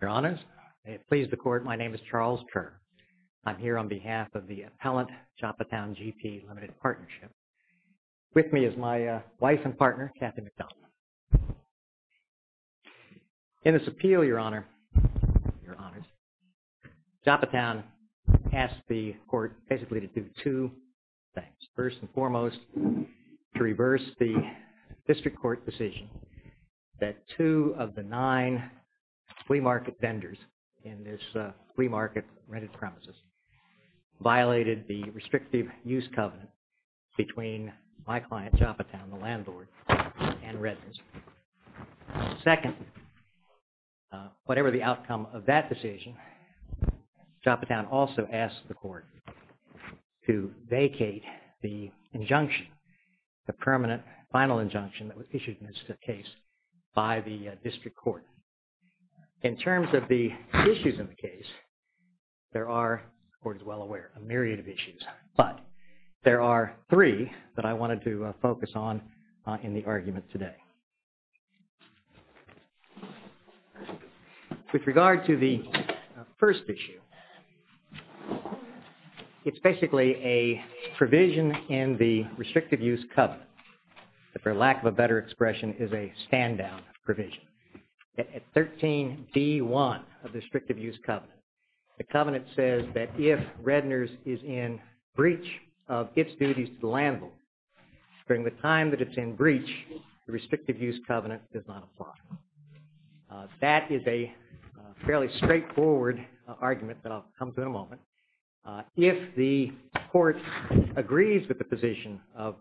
Your Honors, may it please the Court, my name is Charles Kerr. I'm here on behalf of the appellant, Joppatowne G.P. Limited Partnership. With me is my wife and partner, Kathy McDonald. In this appeal, Your Honor, Your Honors, Joppatowne asked the Court basically to do two things. First and foremost, to reverse the district court decision that two of the nine flea market vendors in this flea market rented premises violated the restrictive use covenant between my client, Joppatowne, the landlord and residents. Second, whatever the outcome of that decision, Joppatowne also asked the Court to vacate the injunction, the permanent final injunction that was issued in this case by the district court. In terms of the issues in the case, there are, the Court is well aware, a myriad of issues, but there are three that I wanted to focus on in the argument today. With regard to the first issue, it's basically a provision in the restrictive use covenant, for lack of a better expression, is a stand-down provision. At 13d.1 of the restrictive use covenant, the covenant says that if Redner's is in breach of its duties to the landlord, during the time that it's in breach, the restrictive use covenant does not apply. That is a fairly straightforward argument that I'll come to in a moment. If the Court agrees with the position of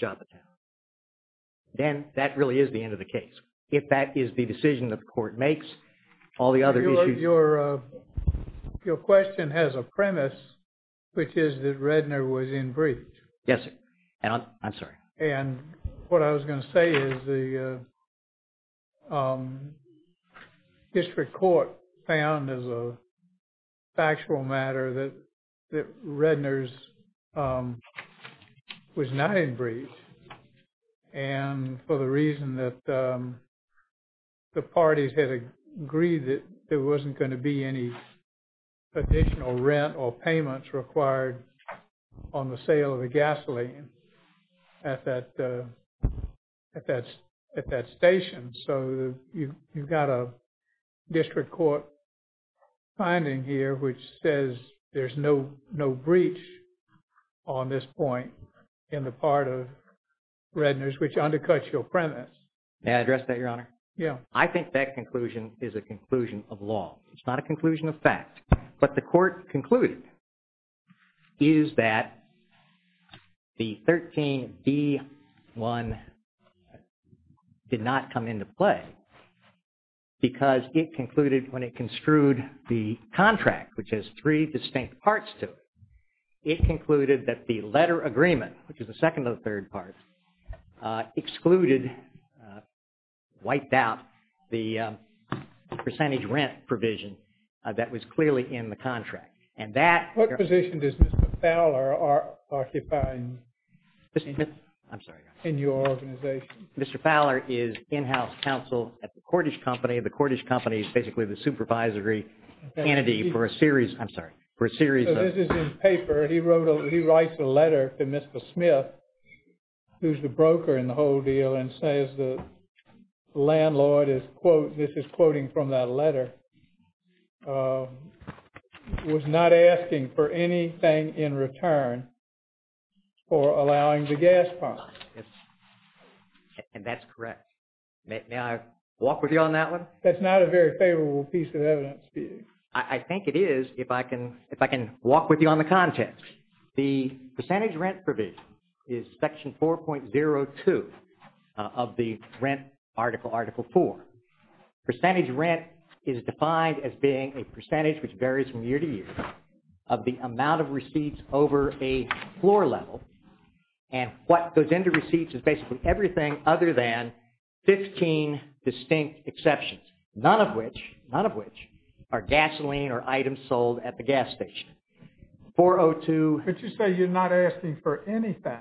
Joppatowne, then that really is the end of the case. If that is the decision that the Court makes, all the other issues... Your question has a premise, which is that Redner was in breach. Yes, I'm sorry. And what I was going to say is the district court found as a factual matter that Redner's was not in breach. And for the reason that the parties had agreed that there wasn't going to be any additional rent or payments required on the sale of the gasoline at that station. So you've got a district court finding here, which says there's no breach on this point in the part of Redner's, which undercuts your premise. May I address that, Your Honor? Yes. I think that conclusion is a conclusion of law. It's not a conclusion of fact. But the Court concluded is that the 13B1 did not come into play because it concluded when it construed the contract, which has three distinct parts to it. It concluded that the letter agreement, which is the second to the third part, excluded, wiped out the percentage rent provision that was clearly in the contract. And that... What position does Mr. Fowler occupy in your organization? Mr. Fowler is in-house counsel at the Cordish Company. The Cordish Company is basically the supervisory entity for a series... I'm sorry, for a series of... So this is in paper. He wrote a... He writes a letter to Mr. Smith, who's the broker in the whole deal, and says the landlord is, quote, this is quoting from that letter, was not asking for anything in return for allowing the gas pump. And that's correct. May I walk with you on that one? That's not a very favorable piece of evidence. I think it is if I can walk with you on the context. The percentage rent provision is Section 4.02 of the Rent Article, Article 4. Percentage rent is defined as being a percentage, which varies from year to year, of the amount of receipts over a floor level. And what goes into receipts is basically everything other than 15 distinct exceptions, none of which are gasoline or items sold at the gas station. 402... But you say you're not asking for anything.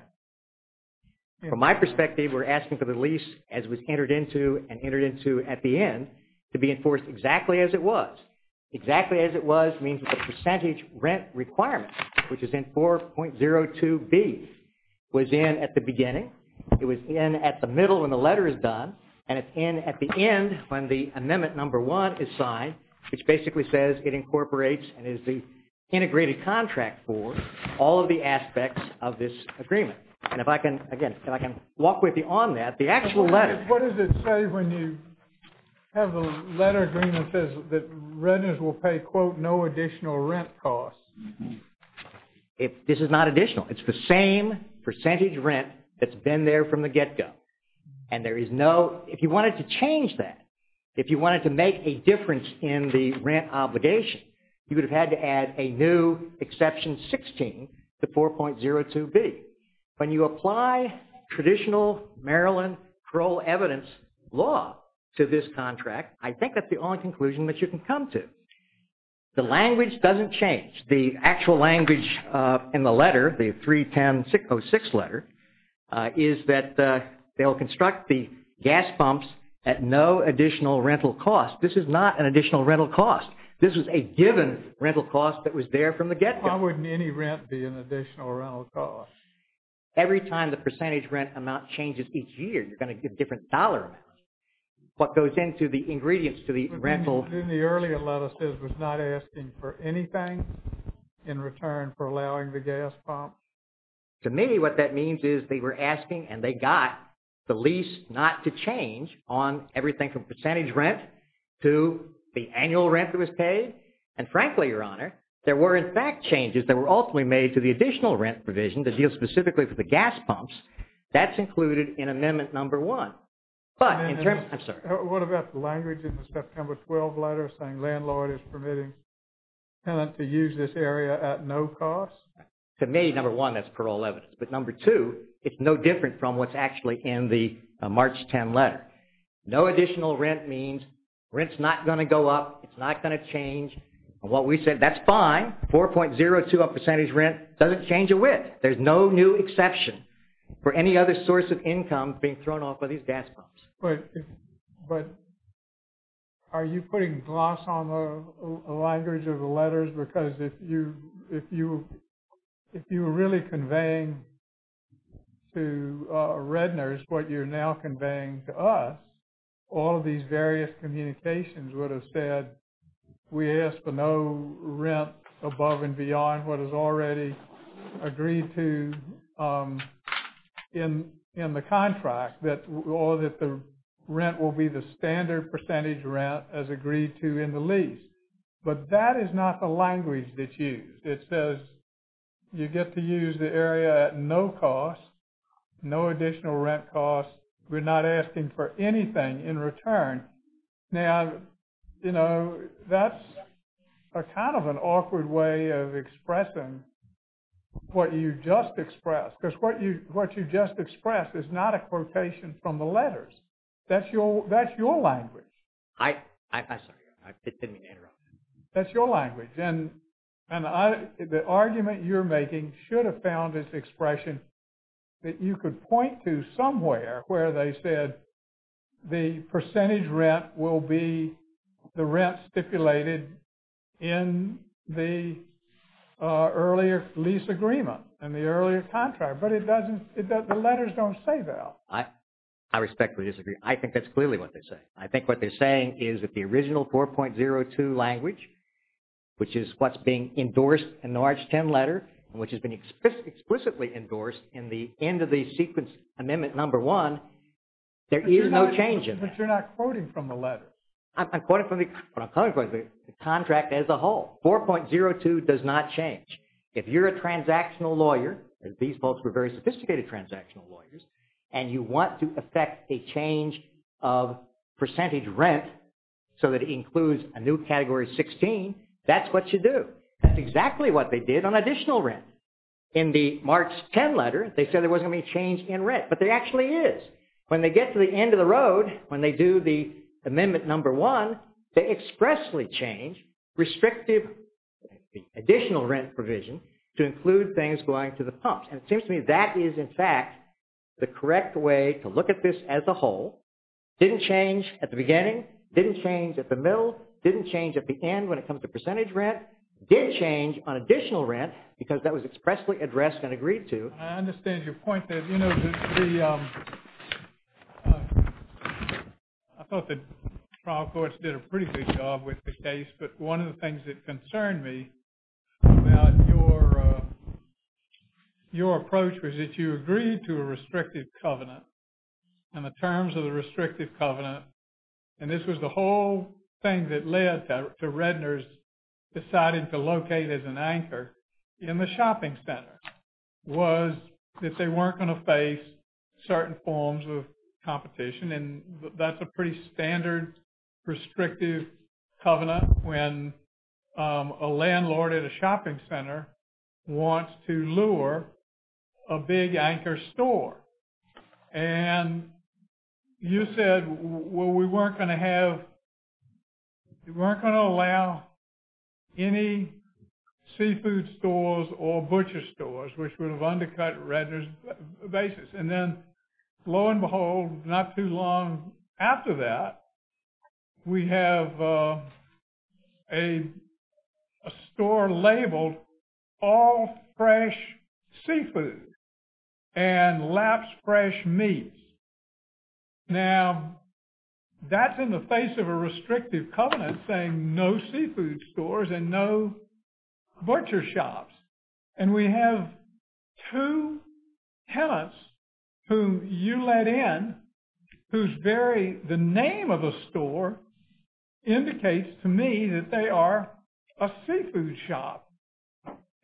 From my perspective, we're asking for the lease, as it was entered into and entered into at the end, to be enforced exactly as it was. Exactly as it was means the percentage rent requirement, which is in 4.02b, was in at the beginning, it was in at the middle when the letter is done, and it's in at the end when the Amendment No. 1 is signed, which basically says it incorporates and is the integrated contract for all of the aspects of this agreement. And if I can, again, if I can walk with you on that, the actual letter... What does it say when you have the letter agreement says that renters will pay, quote, no additional rent costs? This is not additional. It's the same percentage rent that's been there from the get-go. And there is no... If you wanted to change that, if you wanted to make a difference in the rent obligation, you would have had to add a new exception 16 to 4.02b. When you apply traditional Maryland parole evidence law to this contract, I think that's the only conclusion that you can come to. The language doesn't change. The actual language in the letter, the 310-606 letter, is that they'll construct the gas pumps at no additional rental cost. This is not an additional rental cost. This is a given rental cost that was there from the get-go. Why wouldn't any rent be an additional rental cost? Every time the percentage rent amount changes each year, you're going to get different dollar amounts. What goes into the ingredients to the rental... But didn't the earlier letter say it was not asking for anything in return for allowing the gas pump? To me, what that means is they were asking, and they got the lease not to change on everything from percentage rent to the annual rent that was paid. And frankly, Your Honor, there were, in fact, changes that were ultimately made to the additional rent provision that deals specifically for the gas pumps. That's included in Amendment Number 1. But in terms... I'm sorry. What about the language in the September 12 letter saying, landlord is permitting tenant to use this area at no cost? To me, Number 1, that's parole evidence. But Number 2, it's no different from what's actually in the March 10 letter. No additional rent means rent's not going to go up, it's not going to change. What we said, that's fine. 4.02% of percentage rent doesn't change a width. There's no new exception for any other source of income being thrown off by these gas pumps. But are you putting gloss on the language of the letters? Because if you were really conveying to Redners what you're now conveying to us, all of these various communications would have said, we ask for no rent above and beyond what is already agreed to in the contract, or that the rent will be the standard percentage rent as agreed to in the lease. But that is not the language that's used. It says you get to use the area at no cost, no additional rent cost. We're not asking for anything in return. Now, that's kind of an awkward way of expressing what you just expressed. Because what you just expressed is not a quotation from the letters. That's your language. I'm sorry. I didn't mean to interrupt. That's your language. And the argument you're making should have found this expression that you could point to somewhere where they said the percentage rent will be the rent stipulated in the earlier lease agreement and the earlier contract. But the letters don't say that. I respectfully disagree. I think that's clearly what they say. I think what they're saying is that the original 4.02 language, which is what's being endorsed in the large 10 letter, and which has been explicitly endorsed in the end of the sequence amendment number one, there is no change in that. But you're not quoting from the letter. I'm quoting from the contract as a whole. 4.02 does not change. If you're a transactional lawyer, as these folks were very sophisticated transactional lawyers, and you want to affect a change of percentage rent so that it includes a new category 16, that's what you do. That's exactly what they did on additional rent. In the March 10 letter, they said there wasn't any change in rent. But there actually is. When they get to the end of the road, when they do the amendment number one, they expressly change restrictive additional rent provision to include things going to the pumps. And it seems to me that is, in fact, the correct way to look at this as a whole. Didn't change at the beginning. Didn't change at the middle. Didn't change at the end when it comes to percentage rent. Did change on additional rent, because that was expressly addressed and agreed to. I understand your point there. I thought the trial courts did a pretty good job with the case. But one of the things that concerned me about your approach was that you agreed to a restrictive covenant. And the terms of the restrictive covenant, and this was the whole thing that led to Redner's deciding to locate as an anchor in the shopping center, was that they weren't going to face certain forms of competition. And that's a pretty standard restrictive covenant when a landlord at a shopping center wants to lure a big anchor store. And you said, well, we weren't going to have, we weren't going to allow any seafood stores or butcher stores, which would have undercut Redner's basis. And then, lo and behold, not too long after that, we have a store labeled, All Fresh Seafood and Laps Fresh Meats. Now, that's in the face of a restrictive covenant saying no seafood stores and no butcher shops. And we have two tenants who you let in whose very, the name of the store, indicates to me that they are a seafood shop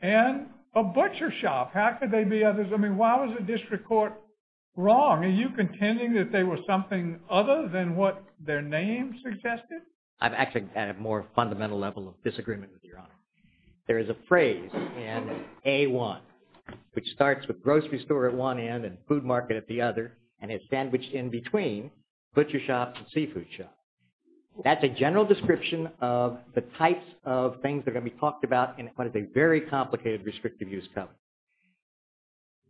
and a butcher shop. How could they be others? I mean, why was the district court wrong? Are you contending that they were something other than what their name suggested? I've actually had a more fundamental level of disagreement with Your Honor. There is a phrase in A1, which starts with grocery store at one end and food market at the other, and it's sandwiched in between butcher shops and seafood shops. That's a general description of the types of things that are going to be talked about in what is a very complicated restrictive use covenant.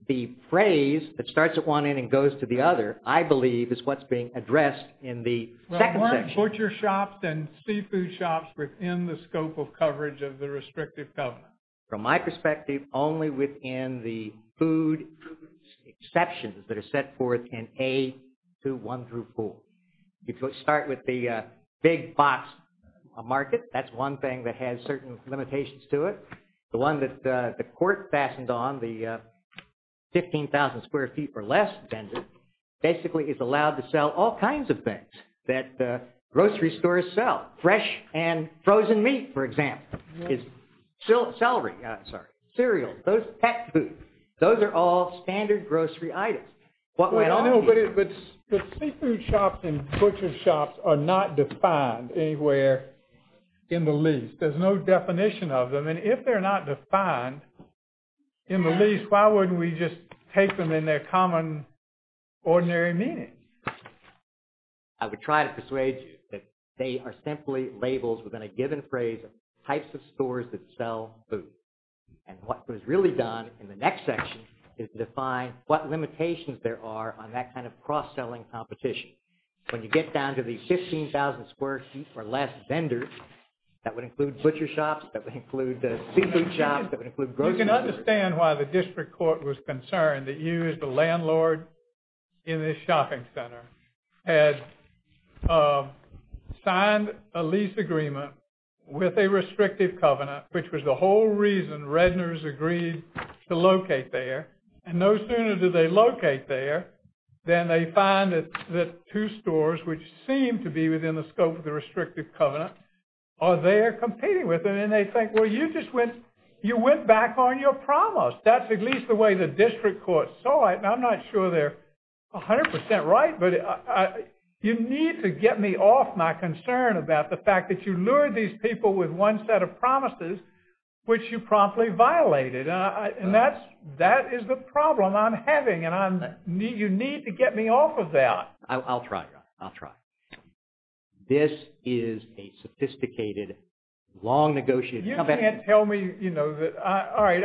The phrase that starts at one end and goes to the other, I believe is what's being addressed in the second section. Butcher shops and seafood shops within the scope of coverage of the restrictive covenant. From my perspective, only within the food exceptions that are set forth in A2, 1 through 4. If you start with the big box market, that's one thing that has certain limitations to it. The one that the court fastened on, the 15,000 square feet or less, basically is allowed to sell all kinds of things that grocery stores sell. Fresh and frozen meat, for example. Celery, sorry. Cereal, pet food. Those are all standard grocery items. But seafood shops and butcher shops are not defined anywhere in the lease. There's no definition of them. And if they're not defined in the lease, why wouldn't we just take them in their common ordinary meaning? I would try to persuade you that they are simply labels within a given phrase of types of stores that sell food. And what was really done in the next section is to define what limitations there are on that kind of cross-selling competition. When you get down to the 15,000 square feet or less vendors, that would include butcher shops, that would include seafood shops, that would include grocery stores. You can understand why the district court was concerned that you, as the landlord in this shopping center, had signed a lease agreement with a restrictive covenant, which was the whole reason Redner's agreed to locate there. And no sooner did they locate there, than they find that two stores, which seem to be within the scope of the restrictive covenant, are there competing with it. And they think, well, you just went back on your promise. That's at least the way the district court saw it, and I'm not sure they're 100% right, but you need to get me off my concern about the fact that you lured these people with one set of promises, which you promptly violated. And that is the problem I'm having, and you need to get me off of that. I'll try, John. I'll try. This is a sophisticated, long-negotiated competition. You can't tell me that, all right,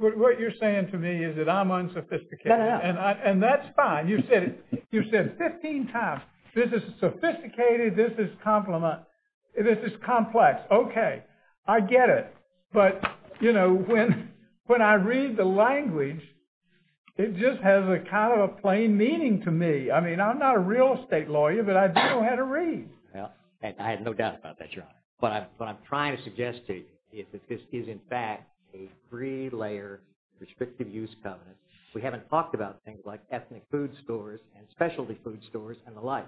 what you're saying to me is that I'm unsophisticated. No, no, no. And that's fine. You've said it 15 times. This is sophisticated, this is complex. Okay, I get it. But when I read the language, it just has kind of a plain meaning to me. I mean, I'm not a real estate lawyer, but I do know how to read. I had no doubt about that, Your Honor. But what I'm trying to suggest to you is that this is, in fact, a three-layer restrictive use covenant. We haven't talked about things like ethnic food stores and specialty food stores and the like.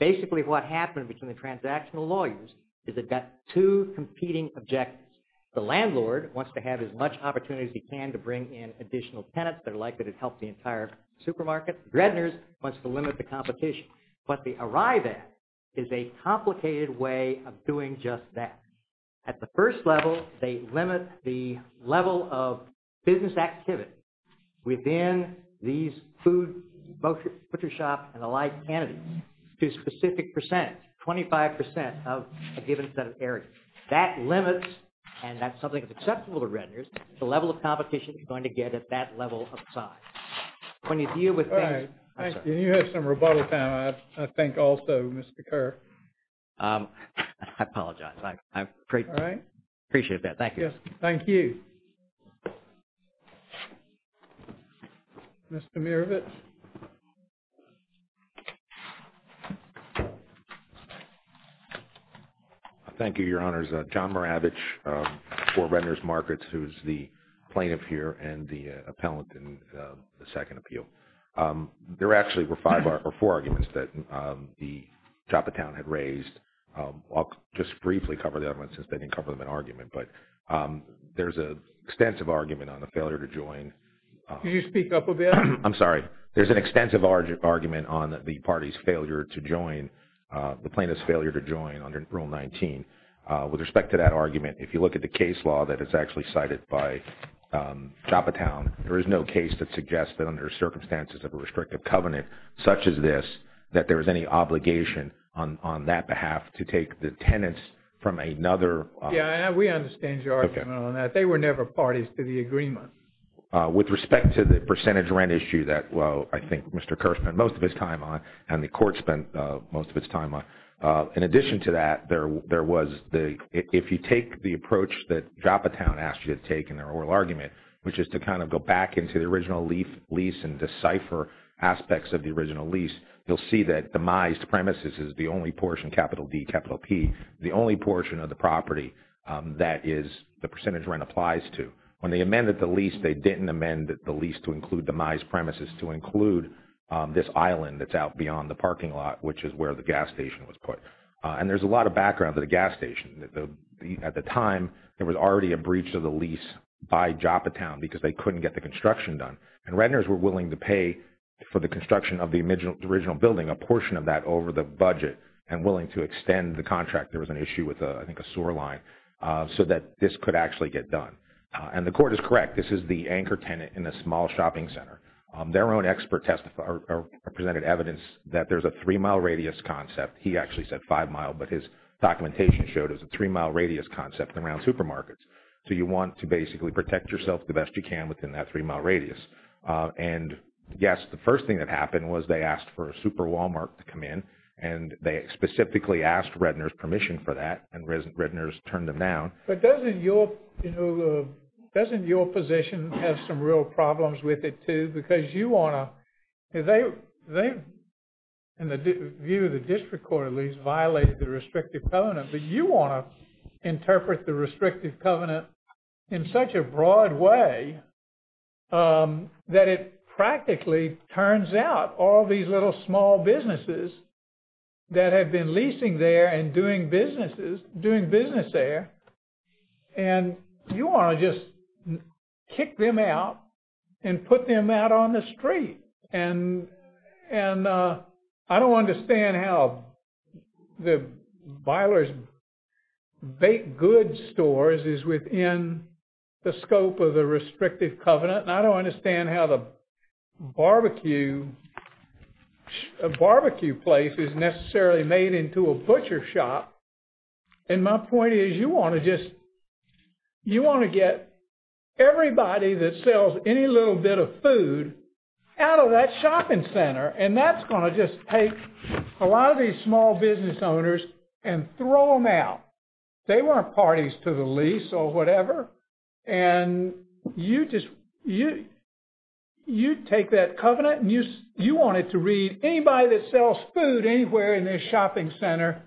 Basically, what happened between the transactional lawyers is they've got two competing objectives. The landlord wants to have as much opportunity as he can to bring in additional tenants. They're likely to help the entire supermarket. The gretners wants to limit the competition. But the arrive at is a complicated way of doing just that. At the first level, they limit the level of business activity within these food, butcher shop, and the like entities to a specific percent, 25% of a given set of areas. That limits, and that's something that's acceptable to the gretners, the level of competition you're going to get at that level of size. When you deal with things... You have some rebuttal time, I think, also, Mr. Kerr. I apologize. All right. I appreciate that. Thank you. Thank you. Mr. Maravich. Thank you, Your Honors. John Maravich for Renter's Markets, who's the plaintiff here and the appellant in the second appeal. There actually were four arguments that the Joppatown had raised. I'll just briefly cover them, since they didn't cover them in argument. But there's an extensive argument on the failure to join... Could you speak up a bit? I'm sorry. There's an extensive argument on the plaintiff's failure to join under Rule 19. With respect to that argument, if you look at the case law that is actually cited by Joppatown, there is no case that suggests that under circumstances of a restrictive covenant such as this, that there was any obligation on that behalf to take the tenants from another... Yeah, we understand your argument on that. They were never parties to the agreement. With respect to the percentage rent issue that, well, I think Mr. Kerr spent most of his time on, and the court spent most of its time on. In addition to that, if you take the approach that Joppatown asked you to take in their oral argument, which is to kind of go back into the original lease and decipher aspects of the original lease, you'll see that demised premises is the only portion, capital D, capital P, the only portion of the property that the percentage rent applies to. When they amended the lease, they didn't amend the lease to include demised premises, to include this island that's out beyond the parking lot, which is where the gas station was put. And there's a lot of background to the gas station. At the time, there was already a breach of the lease by Joppatown because they couldn't get the construction done. And Rentners were willing to pay for the construction of the original building, a portion of that over the budget, and willing to extend the contract. There was an issue with, I think, a sewer line, so that this could actually get done. And the court is correct. This is the anchor tenant in the small shopping center. Their own expert presented evidence that there's a three-mile radius concept. He actually said five-mile, but his documentation showed it was a three-mile radius concept around supermarkets. So you want to basically protect yourself the best you can within that three-mile radius. And yes, the first thing that happened was they asked for a super Walmart to come in, and they specifically asked Rentners' permission for that, and Rentners turned them down. But doesn't your position have some real problems with it, too? Because you want to... In the view of the district court, at least, violated the restrictive covenant, but you want to interpret the restrictive covenant in such a broad way that it practically turns out all these little small businesses that have been leasing there and doing business there, and you want to just kick them out and put them out on the street. And I don't understand how the Byler's Baked Goods stores is within the scope of the restrictive covenant, and I don't understand how the barbecue place is necessarily made into a butcher shop. And my point is you want to just... You want to get everybody that sells any little bit of food out of that shopping center, and that's going to just take a lot of these small business owners and throw them out. They weren't parties to the lease or whatever, and you just... You take that covenant, and you want it to read anybody that sells food anywhere in this shopping center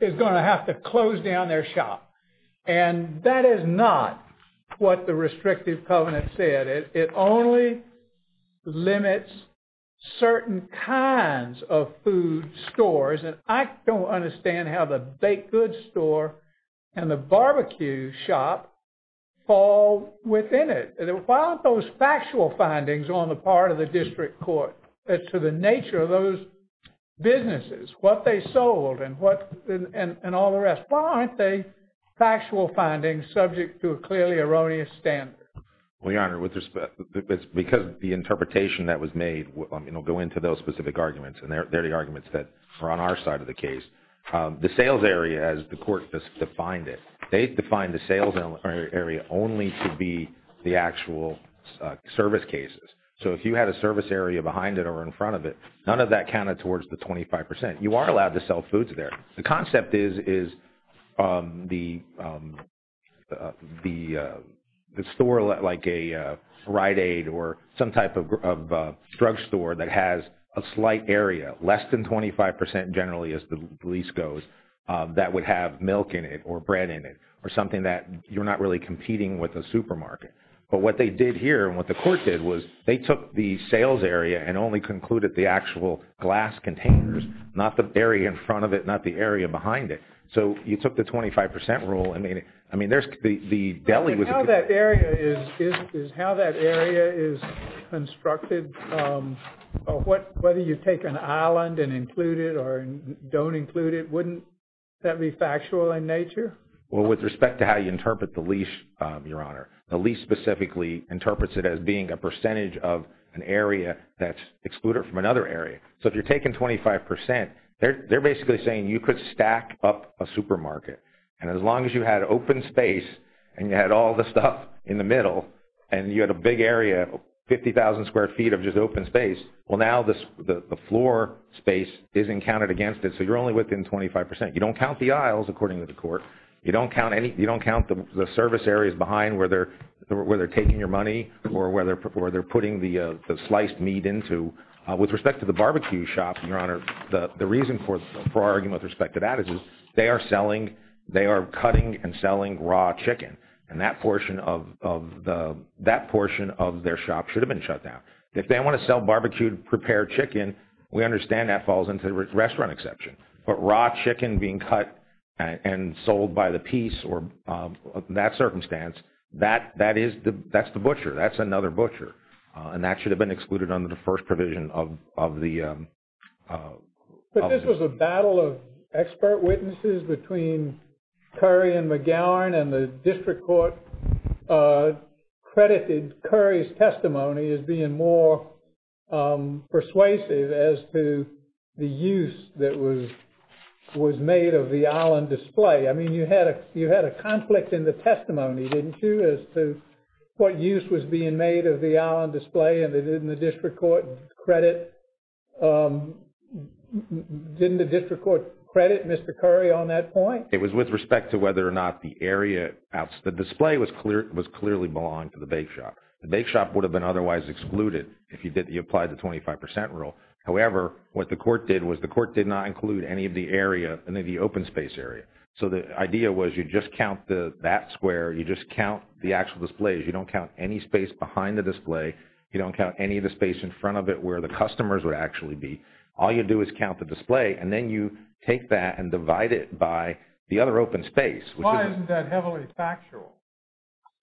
is going to have to close down their shop. And that is not what the restrictive covenant said. It only limits certain kinds of food stores, and I don't understand how the Baked Goods store and the barbecue shop fall within it. Why aren't those factual findings on the part of the district court to the nature of those businesses, what they sold and all the rest? Why aren't they factual findings subject to a clearly erroneous standard? Well, Your Honor, it's because the interpretation that was made will go into those specific arguments, and they're the arguments that are on our side of the case. The sales area, as the court just defined it, they defined the sales area only to be the actual service cases. So if you had a service area behind it or in front of it, none of that counted towards the 25%. You are allowed to sell foods there. The concept is the store, like a Rite Aid or some type of drugstore that has a slight area, less than 25% generally, as the least goes, that would have milk in it or bread in it or something that you're not really competing with a supermarket. But what they did here and what the court did was they took the sales area and only concluded the actual glass containers, not the area in front of it, not the area behind it. So you took the 25% rule. How that area is constructed, whether you take an island and include it or don't include it, wouldn't that be factual in nature? Well, with respect to how you interpret the leash, Your Honor, the leash specifically interprets it as being a percentage of an area that's excluded from another area. So if you're taking 25%, they're basically saying you could stack up a supermarket. And as long as you had open space and you had all the stuff in the middle and you had a big area, 50,000 square feet of just open space, well, now the floor space isn't counted against it. So you're only within 25%. You don't count the aisles, according to the court. You don't count the service areas behind where they're taking your money or where they're putting the sliced meat into. With respect to the barbecue shop, Your Honor, the reason for our argument with respect to that is they are selling, they are cutting and selling raw chicken. And that portion of their shop should have been shut down. If they want to sell barbecued prepared chicken, we understand that falls into the restaurant exception. But raw chicken being cut and sold by the piece or that circumstance, that's the butcher. That's another butcher. And that should have been excluded under the first provision of the... But this was a battle of expert witnesses between Curry and McGowan and the district court credited Curry's testimony as being more persuasive as to the use that was made of the island display. I mean, you had a conflict in the testimony, didn't you? As to what use was being made of the island display and didn't the district court credit... Didn't the district court credit Mr. Curry on that point? It was with respect to whether or not the area... The display was clearly belonged to the bake shop. The bake shop would have been otherwise excluded if you applied the 25% rule. However, what the court did was the court did not include any of the area, any of the open space area. So the idea was you just count that square, you just count the actual displays. You don't count any space behind the display. You don't count any of the space in front of it where the customers would actually be. All you do is count the display and then you take that and divide it by the other open space. Why isn't that heavily factual?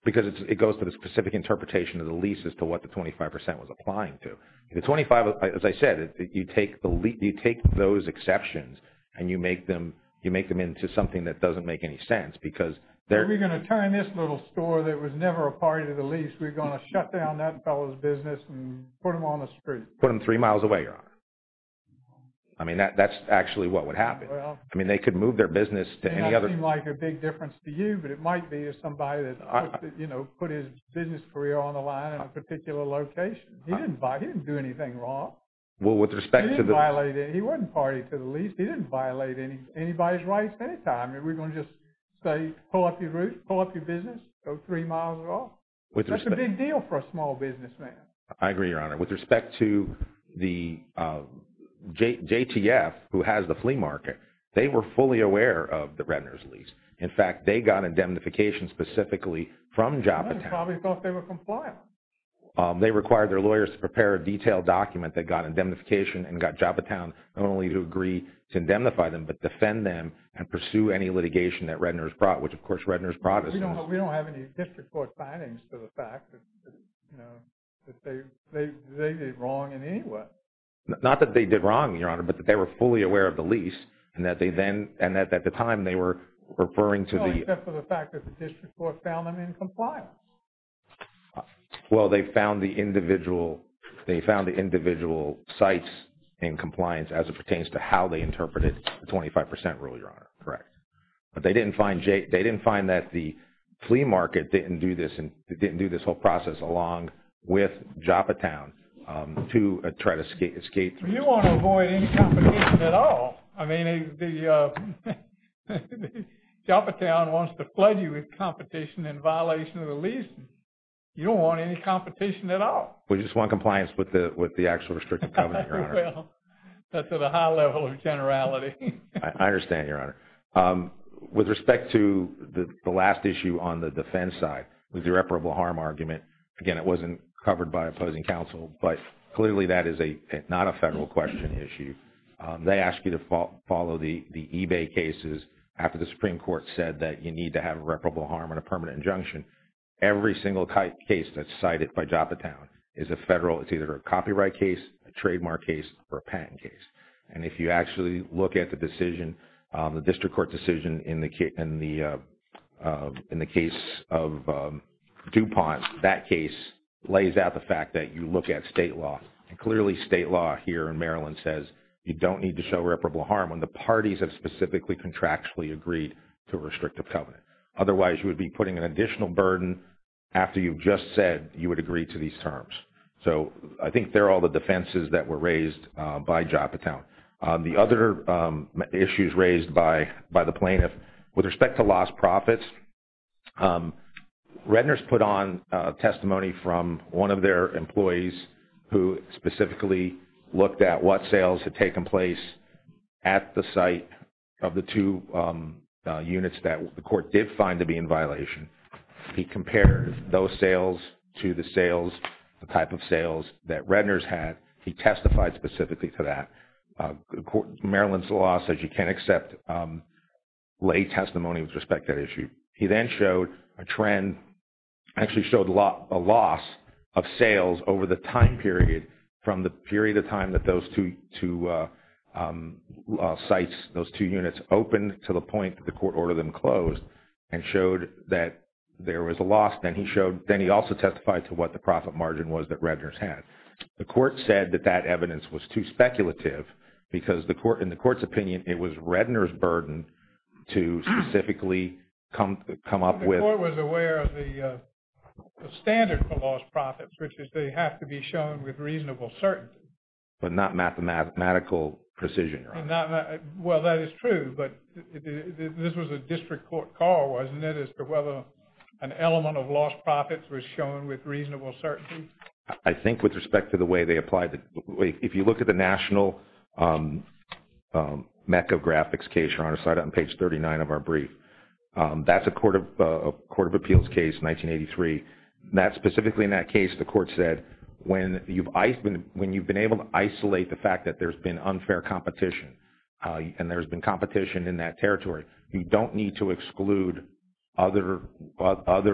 Because it goes to the specific interpretation of the lease as to what the 25% was applying to. The 25, as I said, you take those exceptions and you make them into something that doesn't make any sense because they're... We're going to turn this little store that was never a part of the lease, we're going to shut down that fellow's business and put him on the street. Put him three miles away, Your Honor. I mean, that's actually what would happen. I mean, they could move their business to any other... It doesn't seem like a big difference to you, but it might be to somebody that put his business career on the line in a particular location. He didn't do anything wrong. Well, with respect to the... He didn't violate it. He wasn't partied to the lease. He didn't violate anybody's rights at any time. We're going to just say pull up your roof, pull up your business, go three miles off. With respect... It's a big deal for a small businessman. I agree, Your Honor. With respect to the JTF, who has the flea market, they were fully aware of the Redner's lease. In fact, they got indemnification specifically from Joppatown. They probably thought they were compliant. They required their lawyers to prepare a detailed document that got indemnification and got Joppatown not only to agree to indemnify them, but defend them and pursue any litigation that Redner's brought, which, of course, Redner's brought us. We don't have any district court findings to the fact that they did wrong in any way. Not that they did wrong, Your Honor, but that they were fully aware of the lease and that at the time they were referring to the... Except for the fact that the district court found them in compliance. Well, they found the individual sites in compliance as it pertains to how they interpreted the 25% rule, Your Honor. Correct. But they didn't find that the flea market didn't do this and didn't do this whole process along with Joppatown to try to escape... You want to avoid any competition at all. I mean, Joppatown wants to flood you with competition in violation of the lease. You don't want any competition at all. We just want compliance with the actual restrictive covenant, Your Honor. That's at a high level of generality. I understand, Your Honor. With respect to the last issue on the defense side with the reparable harm argument, again, it wasn't covered by opposing counsel, but clearly that is not a federal question issue. They ask you to follow the eBay cases after the Supreme Court said that you need to have a reparable harm on a permanent injunction. Every single case that's cited by Joppatown is a federal... It's either a copyright case, a trademark case, or a patent case. And if you actually look at the decision, the district court decision in the case of DuPont, that case lays out the fact that you look at state law. Clearly, state law here in Maryland says you don't need to show reparable harm when the parties have specifically contractually agreed to a restrictive covenant. Otherwise, you would be putting an additional burden after you've just said you would agree to these terms. I think they're all the defenses that were raised by Joppatown. The other issues raised by the plaintiff, with respect to lost profits, Redner's put on testimony from one of their employees who specifically looked at what sales had taken place at the site of the two units that the court did find to be in violation. He compared those sales to the sales, the type of sales that Redner's had. He testified specifically to that. Maryland's law says you can't accept lay testimony with respect to that issue. He then showed a trend, actually showed a loss of sales over the time period from the period of time that those two sites, those two units, opened to the point that the court ordered them closed and showed that there was a loss. Then he also testified to what the profit margin was that Redner's had. The court said that that evidence was too speculative because in the court's opinion it was Redner's burden to specifically come up with... The court was aware of the standard for lost profits, which is they have to be shown with reasonable certainty. But not mathematical precision. Well, that is true, but this was a district court call, wasn't it, as to whether an element of lost profits was shown with reasonable certainty? I think with respect to the way they applied... If you look at the national MECA graphics case, on page 39 of our brief, that's a Court of Appeals case, 1983. Specifically in that case the court said when you've been able to isolate the fact that there's been unfair competition and there's been competition in that territory, you don't need to exclude other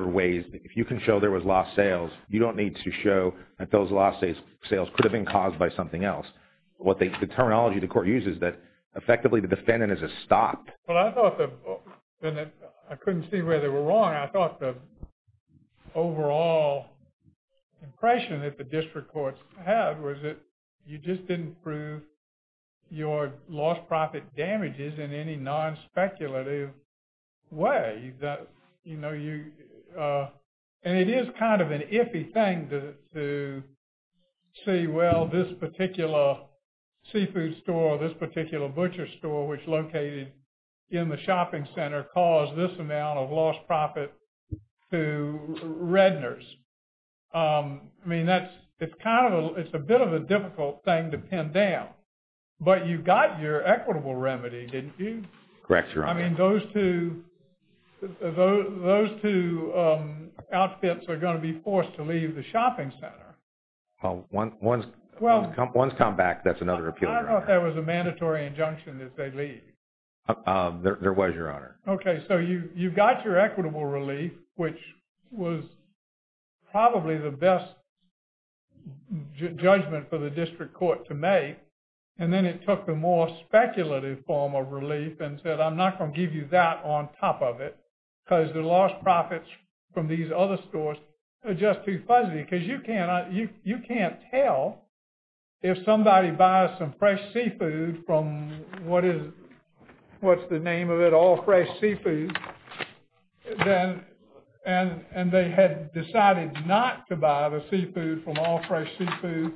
ways. If you can show there was lost sales, you don't need to show that those lost sales could have been caused by something else. The terminology the court uses is that effectively the defendant is a stop. Well, I thought that... I couldn't see where they were wrong. I thought the overall impression that the district courts had was that you just didn't prove your lost profit damages in any non-speculative way. And it is kind of an iffy thing to say, well, this particular seafood store, this particular butcher store which is located in the shopping center caused this amount of lost profit to Redner's. I mean, that's... It's a bit of a difficult thing to pin down. But you got your equitable remedy, didn't you? Correct, Your Honor. I mean, those two outfits are going to be forced to leave the shopping center. Well, one's come back. That's another appeal. I don't know if that was a mandatory injunction that they leave. There was, Your Honor. Okay, so you got your equitable relief which was probably the best judgment for the district court to make. And then it took the more speculative form of relief and said I'm not going to give you that on top of it because the lost profits from these other stores are just too fuzzy because you can't tell if somebody buys some fresh seafood from what is... What's the name of it? All Fresh Seafood. And they had decided not to buy the seafood from All Fresh Seafood.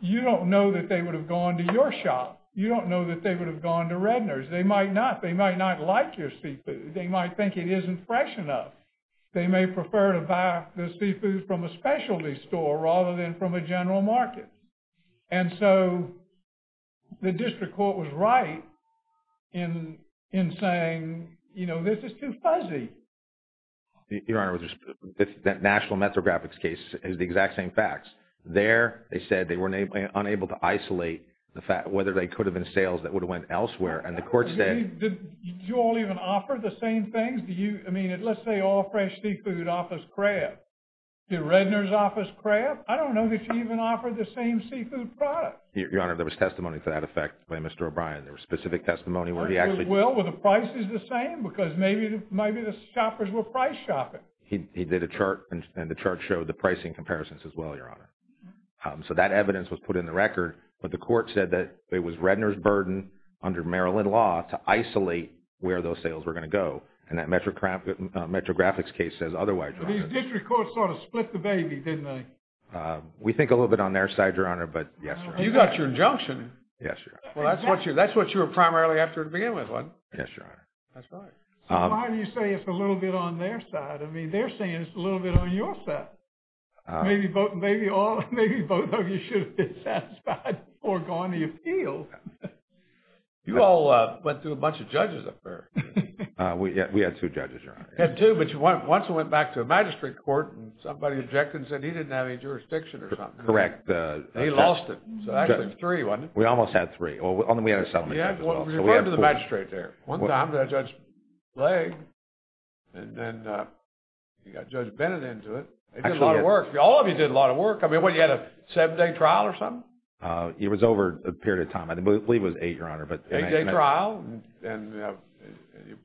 You don't know that they would have gone to your shop. You don't know that they would have gone to Redner's. They might not. They might not like your seafood. They might think it isn't fresh enough. They may prefer to buy the seafood from a specialty store rather than from a general market. And so the district court was right in saying, you know, this is too fuzzy. Your Honor, that National Metrographics case is the exact same facts. There they said they were unable to isolate the fact whether they could have been sales that would have went elsewhere and the court said... Did you all even offer the same things? I mean, let's say All Fresh Seafood offers crab. Did Redner's offer crab? I don't know that you even offered the same seafood product. Your Honor, there was testimony to that effect by Mr. O'Brien. There was specific testimony where he actually... Well, were the prices the same? Because maybe the shoppers were price shopping. He did a chart and the chart showed the pricing comparisons as well, Your Honor. So that evidence was put in the record but the court said that it was Redner's burden under Maryland law to isolate where those sales were going to go. And that Metrographics case says otherwise, Your Honor. These district courts sort of split the baby, didn't they? We think a little bit on their side, Your Honor, but yes, Your Honor. You got your injunction. Yes, Your Honor. Well, that's what you were primarily after to begin with, wasn't it? Yes, Your Honor. That's right. So why do you say it's a little bit on their side? I mean, they're saying it's a little bit on your side. Maybe both of you should have been satisfied before going to the appeal. You all went through a whole bunch of judges up there. We had two judges, Your Honor. You had two, but you went once and went back to a magistrate court and somebody objected and said he didn't have any jurisdiction or something. Correct. And he lost it. So actually three, wasn't it? We almost had three. We had a settlement judge as well. You went to the magistrate there. One time the judge played and then you got Judge Bennett into it. It did a lot of work. All of you did a lot of work. I mean, what, you had a seven-day trial or something? It was over a period of time. I believe it was eight, Your Honor. Eight-day trial. And you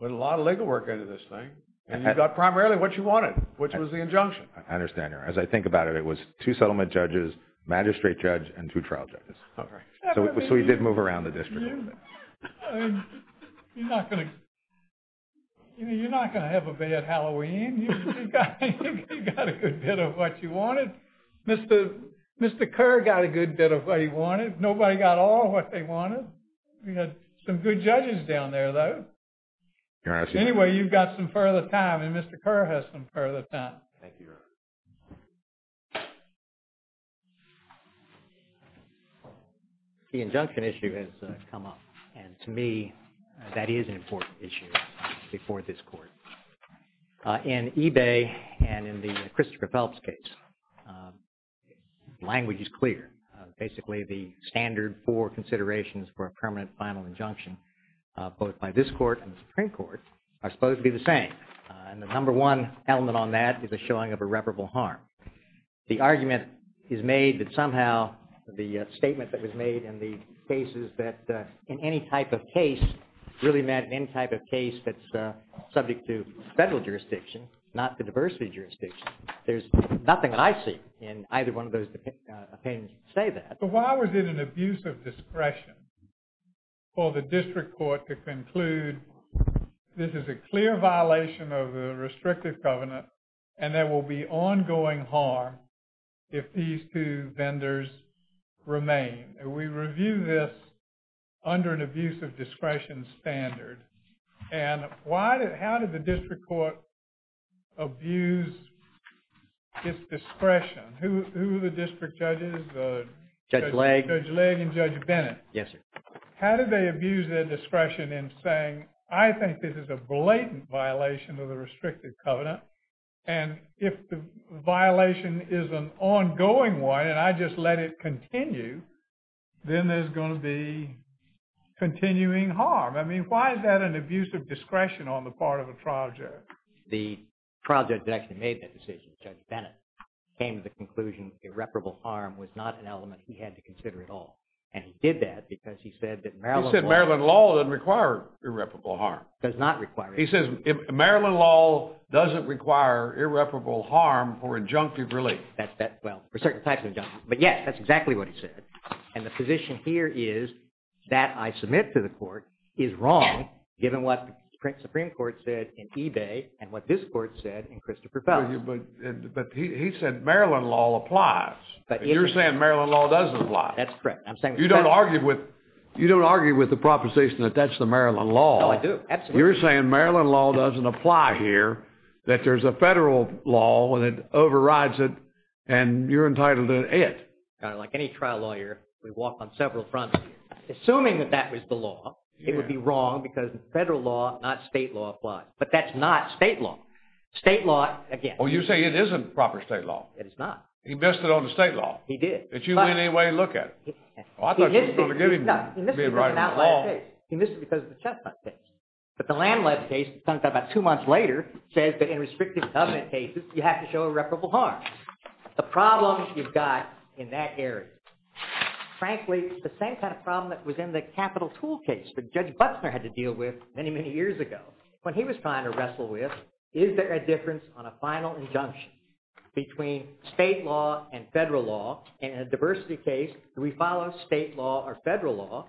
put a lot of legal work into this thing. And you got primarily what you wanted, which was the injunction. I understand, Your Honor. As I think about it, it was two settlement judges, magistrate judge, and two trial judges. All right. So you did move around the district a little bit. You're not going to have a bad Halloween. You got a good bit of what you wanted. Mr. Kerr got a good bit of what he wanted. Nobody got all of what they wanted. We had some good judges down there, though. Anyway, you've got some further time. And Mr. Kerr has some further time. Thank you, Your Honor. The injunction issue has come up. And to me, that is an important issue before this court. In Ebay and in the Christopher Phelps case, language is clear. Basically, the standard for considerations for a permanent final injunction, both by this court and the Supreme Court, are supposed to be the same. And the number one element on that is the showing of irreparable harm. The argument is made that somehow the statement that was made in the cases that in any type of case really meant any type of case that's subject to federal jurisdiction, not the diversity jurisdiction. There's nothing I see in either one of those opinions to say that. But why was it an abuse of discretion for the district court to conclude this is a clear violation of the restrictive covenant and there will be ongoing harm if these two vendors remain? And we review this under an abuse of discretion standard. And how did the district court abuse its discretion? Who are the district judges? Judge Legg. Judge Legg and Judge Bennett. Yes, sir. How did they abuse their discretion in saying, I think this is a blatant violation of the restrictive covenant and if the violation is an ongoing one and I just let it continue, then there's going to be continuing harm. I mean, why is that an abuse of discretion on the part of a trial judge? The trial judge that actually made that decision, Judge Bennett, came to the conclusion irreparable harm was not an element he had to consider at all. And he did that because he said that Maryland law... He said Maryland law doesn't require irreparable harm. Does not require it. He says, Maryland law doesn't require irreparable harm for injunctive relief. That, well, for certain types of injunctive... But, yes, that's exactly what he said. And the position here is that I submit to the court is wrong, given what the Supreme Court said in Ebay and what this court said in Christopher Fell. But he said Maryland law applies. But you're saying Maryland law doesn't apply. That's correct. You don't argue with... You don't argue with the proposition that that's the Maryland law. No, I do. You're saying Maryland law doesn't apply here, that there's a federal law and it overrides it, and you're entitled to it. Like any trial lawyer, we walk on several fronts. Assuming that that was the law, it would be wrong because federal law, not state law, applies. But that's not state law. State law, again... Well, you say it isn't proper state law. It is not. He missed it on the state law. He did. Did you in any way look at it? Well, I thought you were going to give him... No, he missed it on the outland case. He missed it because of the Chesnut case. But the land-led case, talked about two months later, says that in restrictive covenant cases, you have to show irreparable harm. The problem you've got in that area. Frankly, the same kind of problem that was in the capital tool case that Judge Butzner had to deal with many, many years ago when he was trying to wrestle with, is there a difference on a final injunction between state law and federal law? And in a diversity case, do we follow state law or federal law?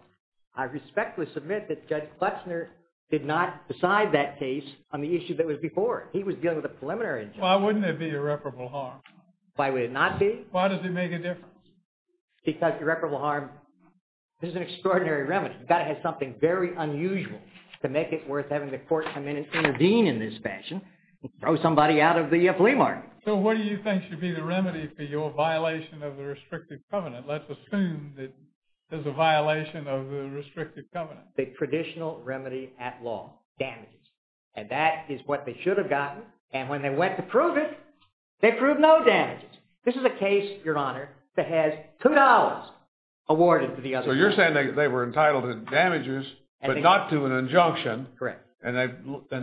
I respectfully submit that Judge Klepsner did not decide that case on the issue that was before it. He was dealing with a preliminary injunction. Why wouldn't it be irreparable harm? Why would it not be? Why does it make a difference? Because irreparable harm is an extraordinary remedy. You've got to have something very unusual to make it worth having the court come in and intervene in this fashion and throw somebody out of the flea market. So what do you think should be the remedy for your violation of the restrictive covenant? Let's assume that there's a violation of the restrictive covenant. The traditional remedy at law, damages. And that is what they should have gotten. And when they went to prove it, they proved no damages. This is a case, Your Honor, that has $2 awarded to the other parties. So you're saying they were entitled to damages, but not to an injunction. Correct. And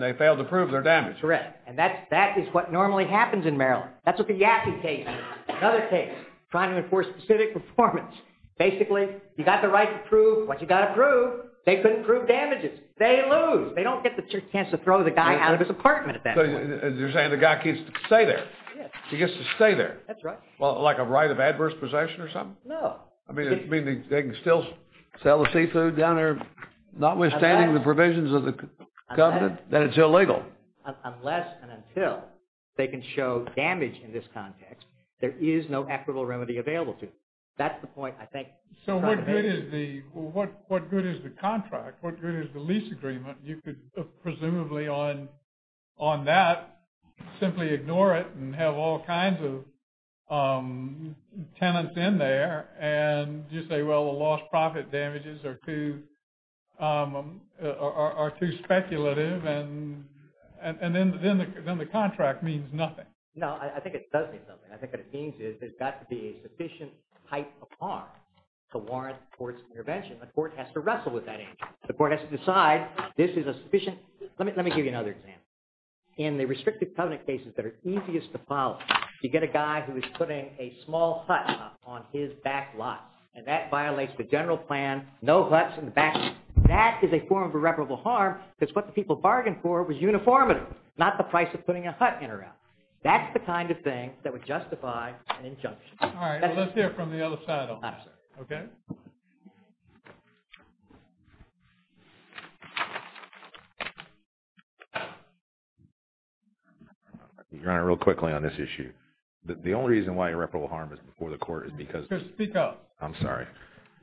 they failed to prove their damage. Correct. And that is what normally happens in Maryland. That's with the Yaffe case. Another case, trying to enforce specific performance. Basically, you've got the right to prove what you've got to prove. They couldn't prove damages. They lose. They don't get the chance to throw the guy out of his apartment at that point. So you're saying the guy gets to stay there. He gets to stay there. That's right. Well, like a right of adverse possession or something? No. I mean, they can still sell the seafood down there notwithstanding the provisions of the government that it's illegal. Unless and until they can show damage in this context, there is no equitable remedy available to them. That's the point, I think. So what good is the contract? What good is the lease agreement? You could presumably on that, and they're not going to be able to pay the rent. Well, that's not going to work. That's not going to work. That's not going to work. the rules are too speculative and then the contract means nothing. No, I think it does mean something. I think what it means is there's got to be a sufficient height of arm to warrant the court's intervention. The court has to wrestle with that angle. The court has to decide this is a sufficient let me give you another example. In the restrictive covenant cases that are easiest to follow, you get a guy who is putting a small hut on his back lot and that violates the general plan, no huts in the back. That is a form of irreparable harm because what the people bargained for was uniformity, not the price of putting a hut in or out. That's the kind of thing that would justify an injunction. All right, let's hear it from the other side, okay? Your Honor, real quickly on this issue. The only reason why irreparable harm is before the court is because Speak up. I'm sorry.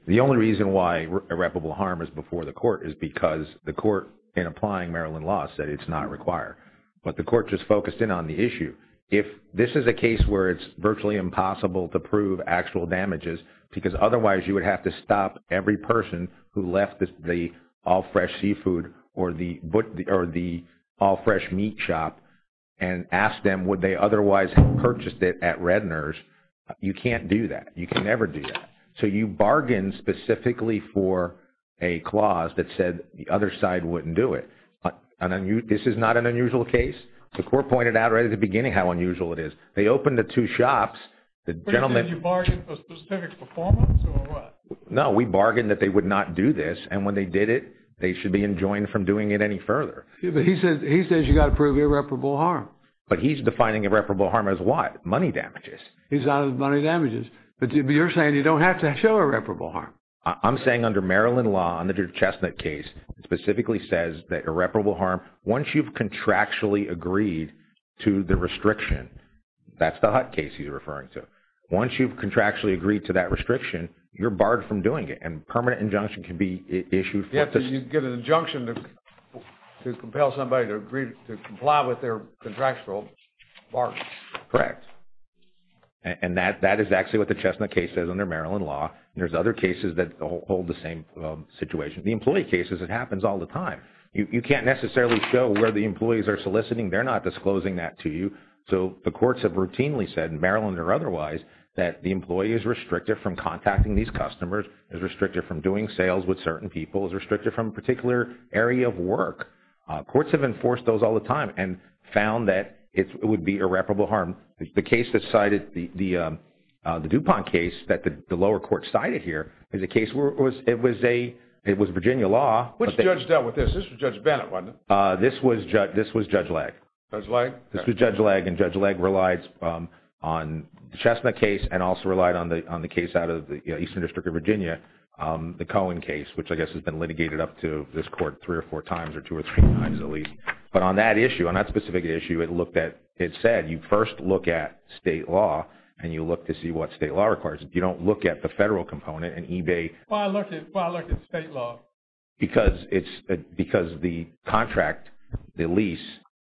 The only reason why irreparable harm is before the court is because the court in applying Maryland law said it's not required. But the court just focused in on the issue. If this is a case where it's virtually impossible to prove actual damages because otherwise you would have to stop every person who left the all fresh seafood or the all fresh meat shop and asked them would they otherwise have purchased it at Redner's, you can't do that. You can never do that. So you bargain specifically for a clause that said the other side wouldn't do it. This is not an unusual case. The court pointed out right at the beginning how unusual it is. They opened the two shops, the gentleman Did you bargain for specific performance or what? No, we bargained that they would not do this and when they did it they should be enjoined from doing it any further. But he says you got to prove irreparable harm. But he's defining irreparable harm as what? Money damages. He's not as money damages. But you're saying you don't have to show irreparable harm. I'm saying under Maryland law under the Chestnut case it specifically says that irreparable harm once you've contractually agreed to the restriction that's the Hutt case he's referring to. Once you've contractually agreed to that restriction you're barred from doing it and permanent injunction can be issued. You have to get to agree to comply with their contractual bargaining. Correct. And that is actually what the Chestnut case says under Maryland law. So you can't bargain for specific performance under Maryland law. There's other cases that hold the same situation. The employee cases it happens all the time. You can't necessarily show where the employees are soliciting. They're not disclosing that to you. So the courts have routinely said in Maryland or otherwise that the employee is restricted from contacting these customers is restricted from doing sales with certain people is restricted from a particular area of work. Courts have enforced those all the time and found that it would be irreparable harm. The case that cited the DuPont case that the lower court cited here is a case where it was Virginia law. Which judge dealt with this? This was Judge Bennett, wasn't it? This was Judge Legge. Judge Legge? This was Judge Legge and Judge Legge relied on the Chestnut case and also relied on the case out of the Eastern District of Virginia. The Cohen case which I guess has been litigated up to this court three or four times or two or three times at least. But on that issue on that specific issue it said you first look at state law and you look to see what state law requires. You don't look at the federal component and eBay. Why look at state law? Because it's because the contract, the lease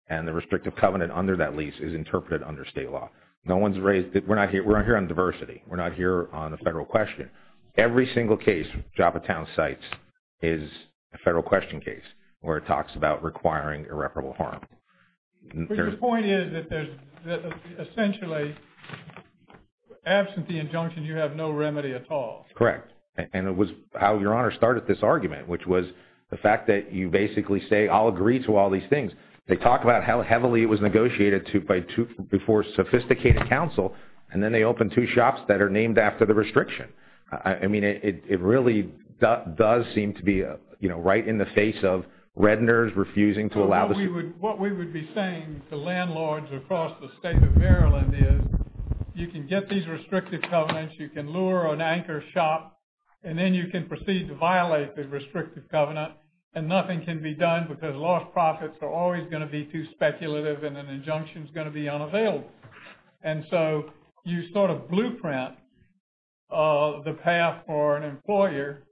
and the restrictive covenant under that lease is interpreted under state law. No one's raised we're not here on diversity. We're not here on the federal question. Every single case Joppatown cites is a federal question case where it talks about requiring irreparable harm. But the point is that there's essentially absolutely there's no remedy at all. Correct. And it was how Your Honor started this argument which was the fact that you basically say I'll agree to all these things. They talk about how heavily it was negotiated to by two before sophisticated counsel and then they open two shops that are named after the restriction. I mean it really does seem to be right in the face of Redners refusing to allow the What we would be saying to landlords across the state of Maryland is you can get these restrictive covenants you can lure an anchor shop and then you can proceed to violate the restrictive covenant and nothing can be done because lost profits are always going to be too speculative and an injunction is going to be And so you sort of blueprint the path for an employer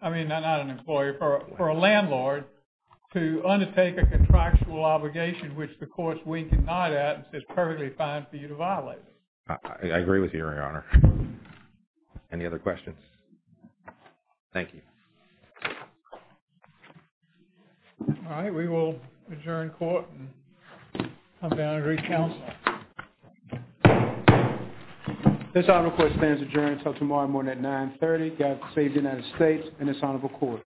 I mean not an employer for a landlord to undertake a contractual obligation which the courts wink and nod at and says perfectly fine for you to violate it I agree with you your honor Any other questions? Thank you Alright we will adjourn court and come down and re-counsel This honorable court stands adjourned until tomorrow morning at 9.30 God save the United States and this honorable court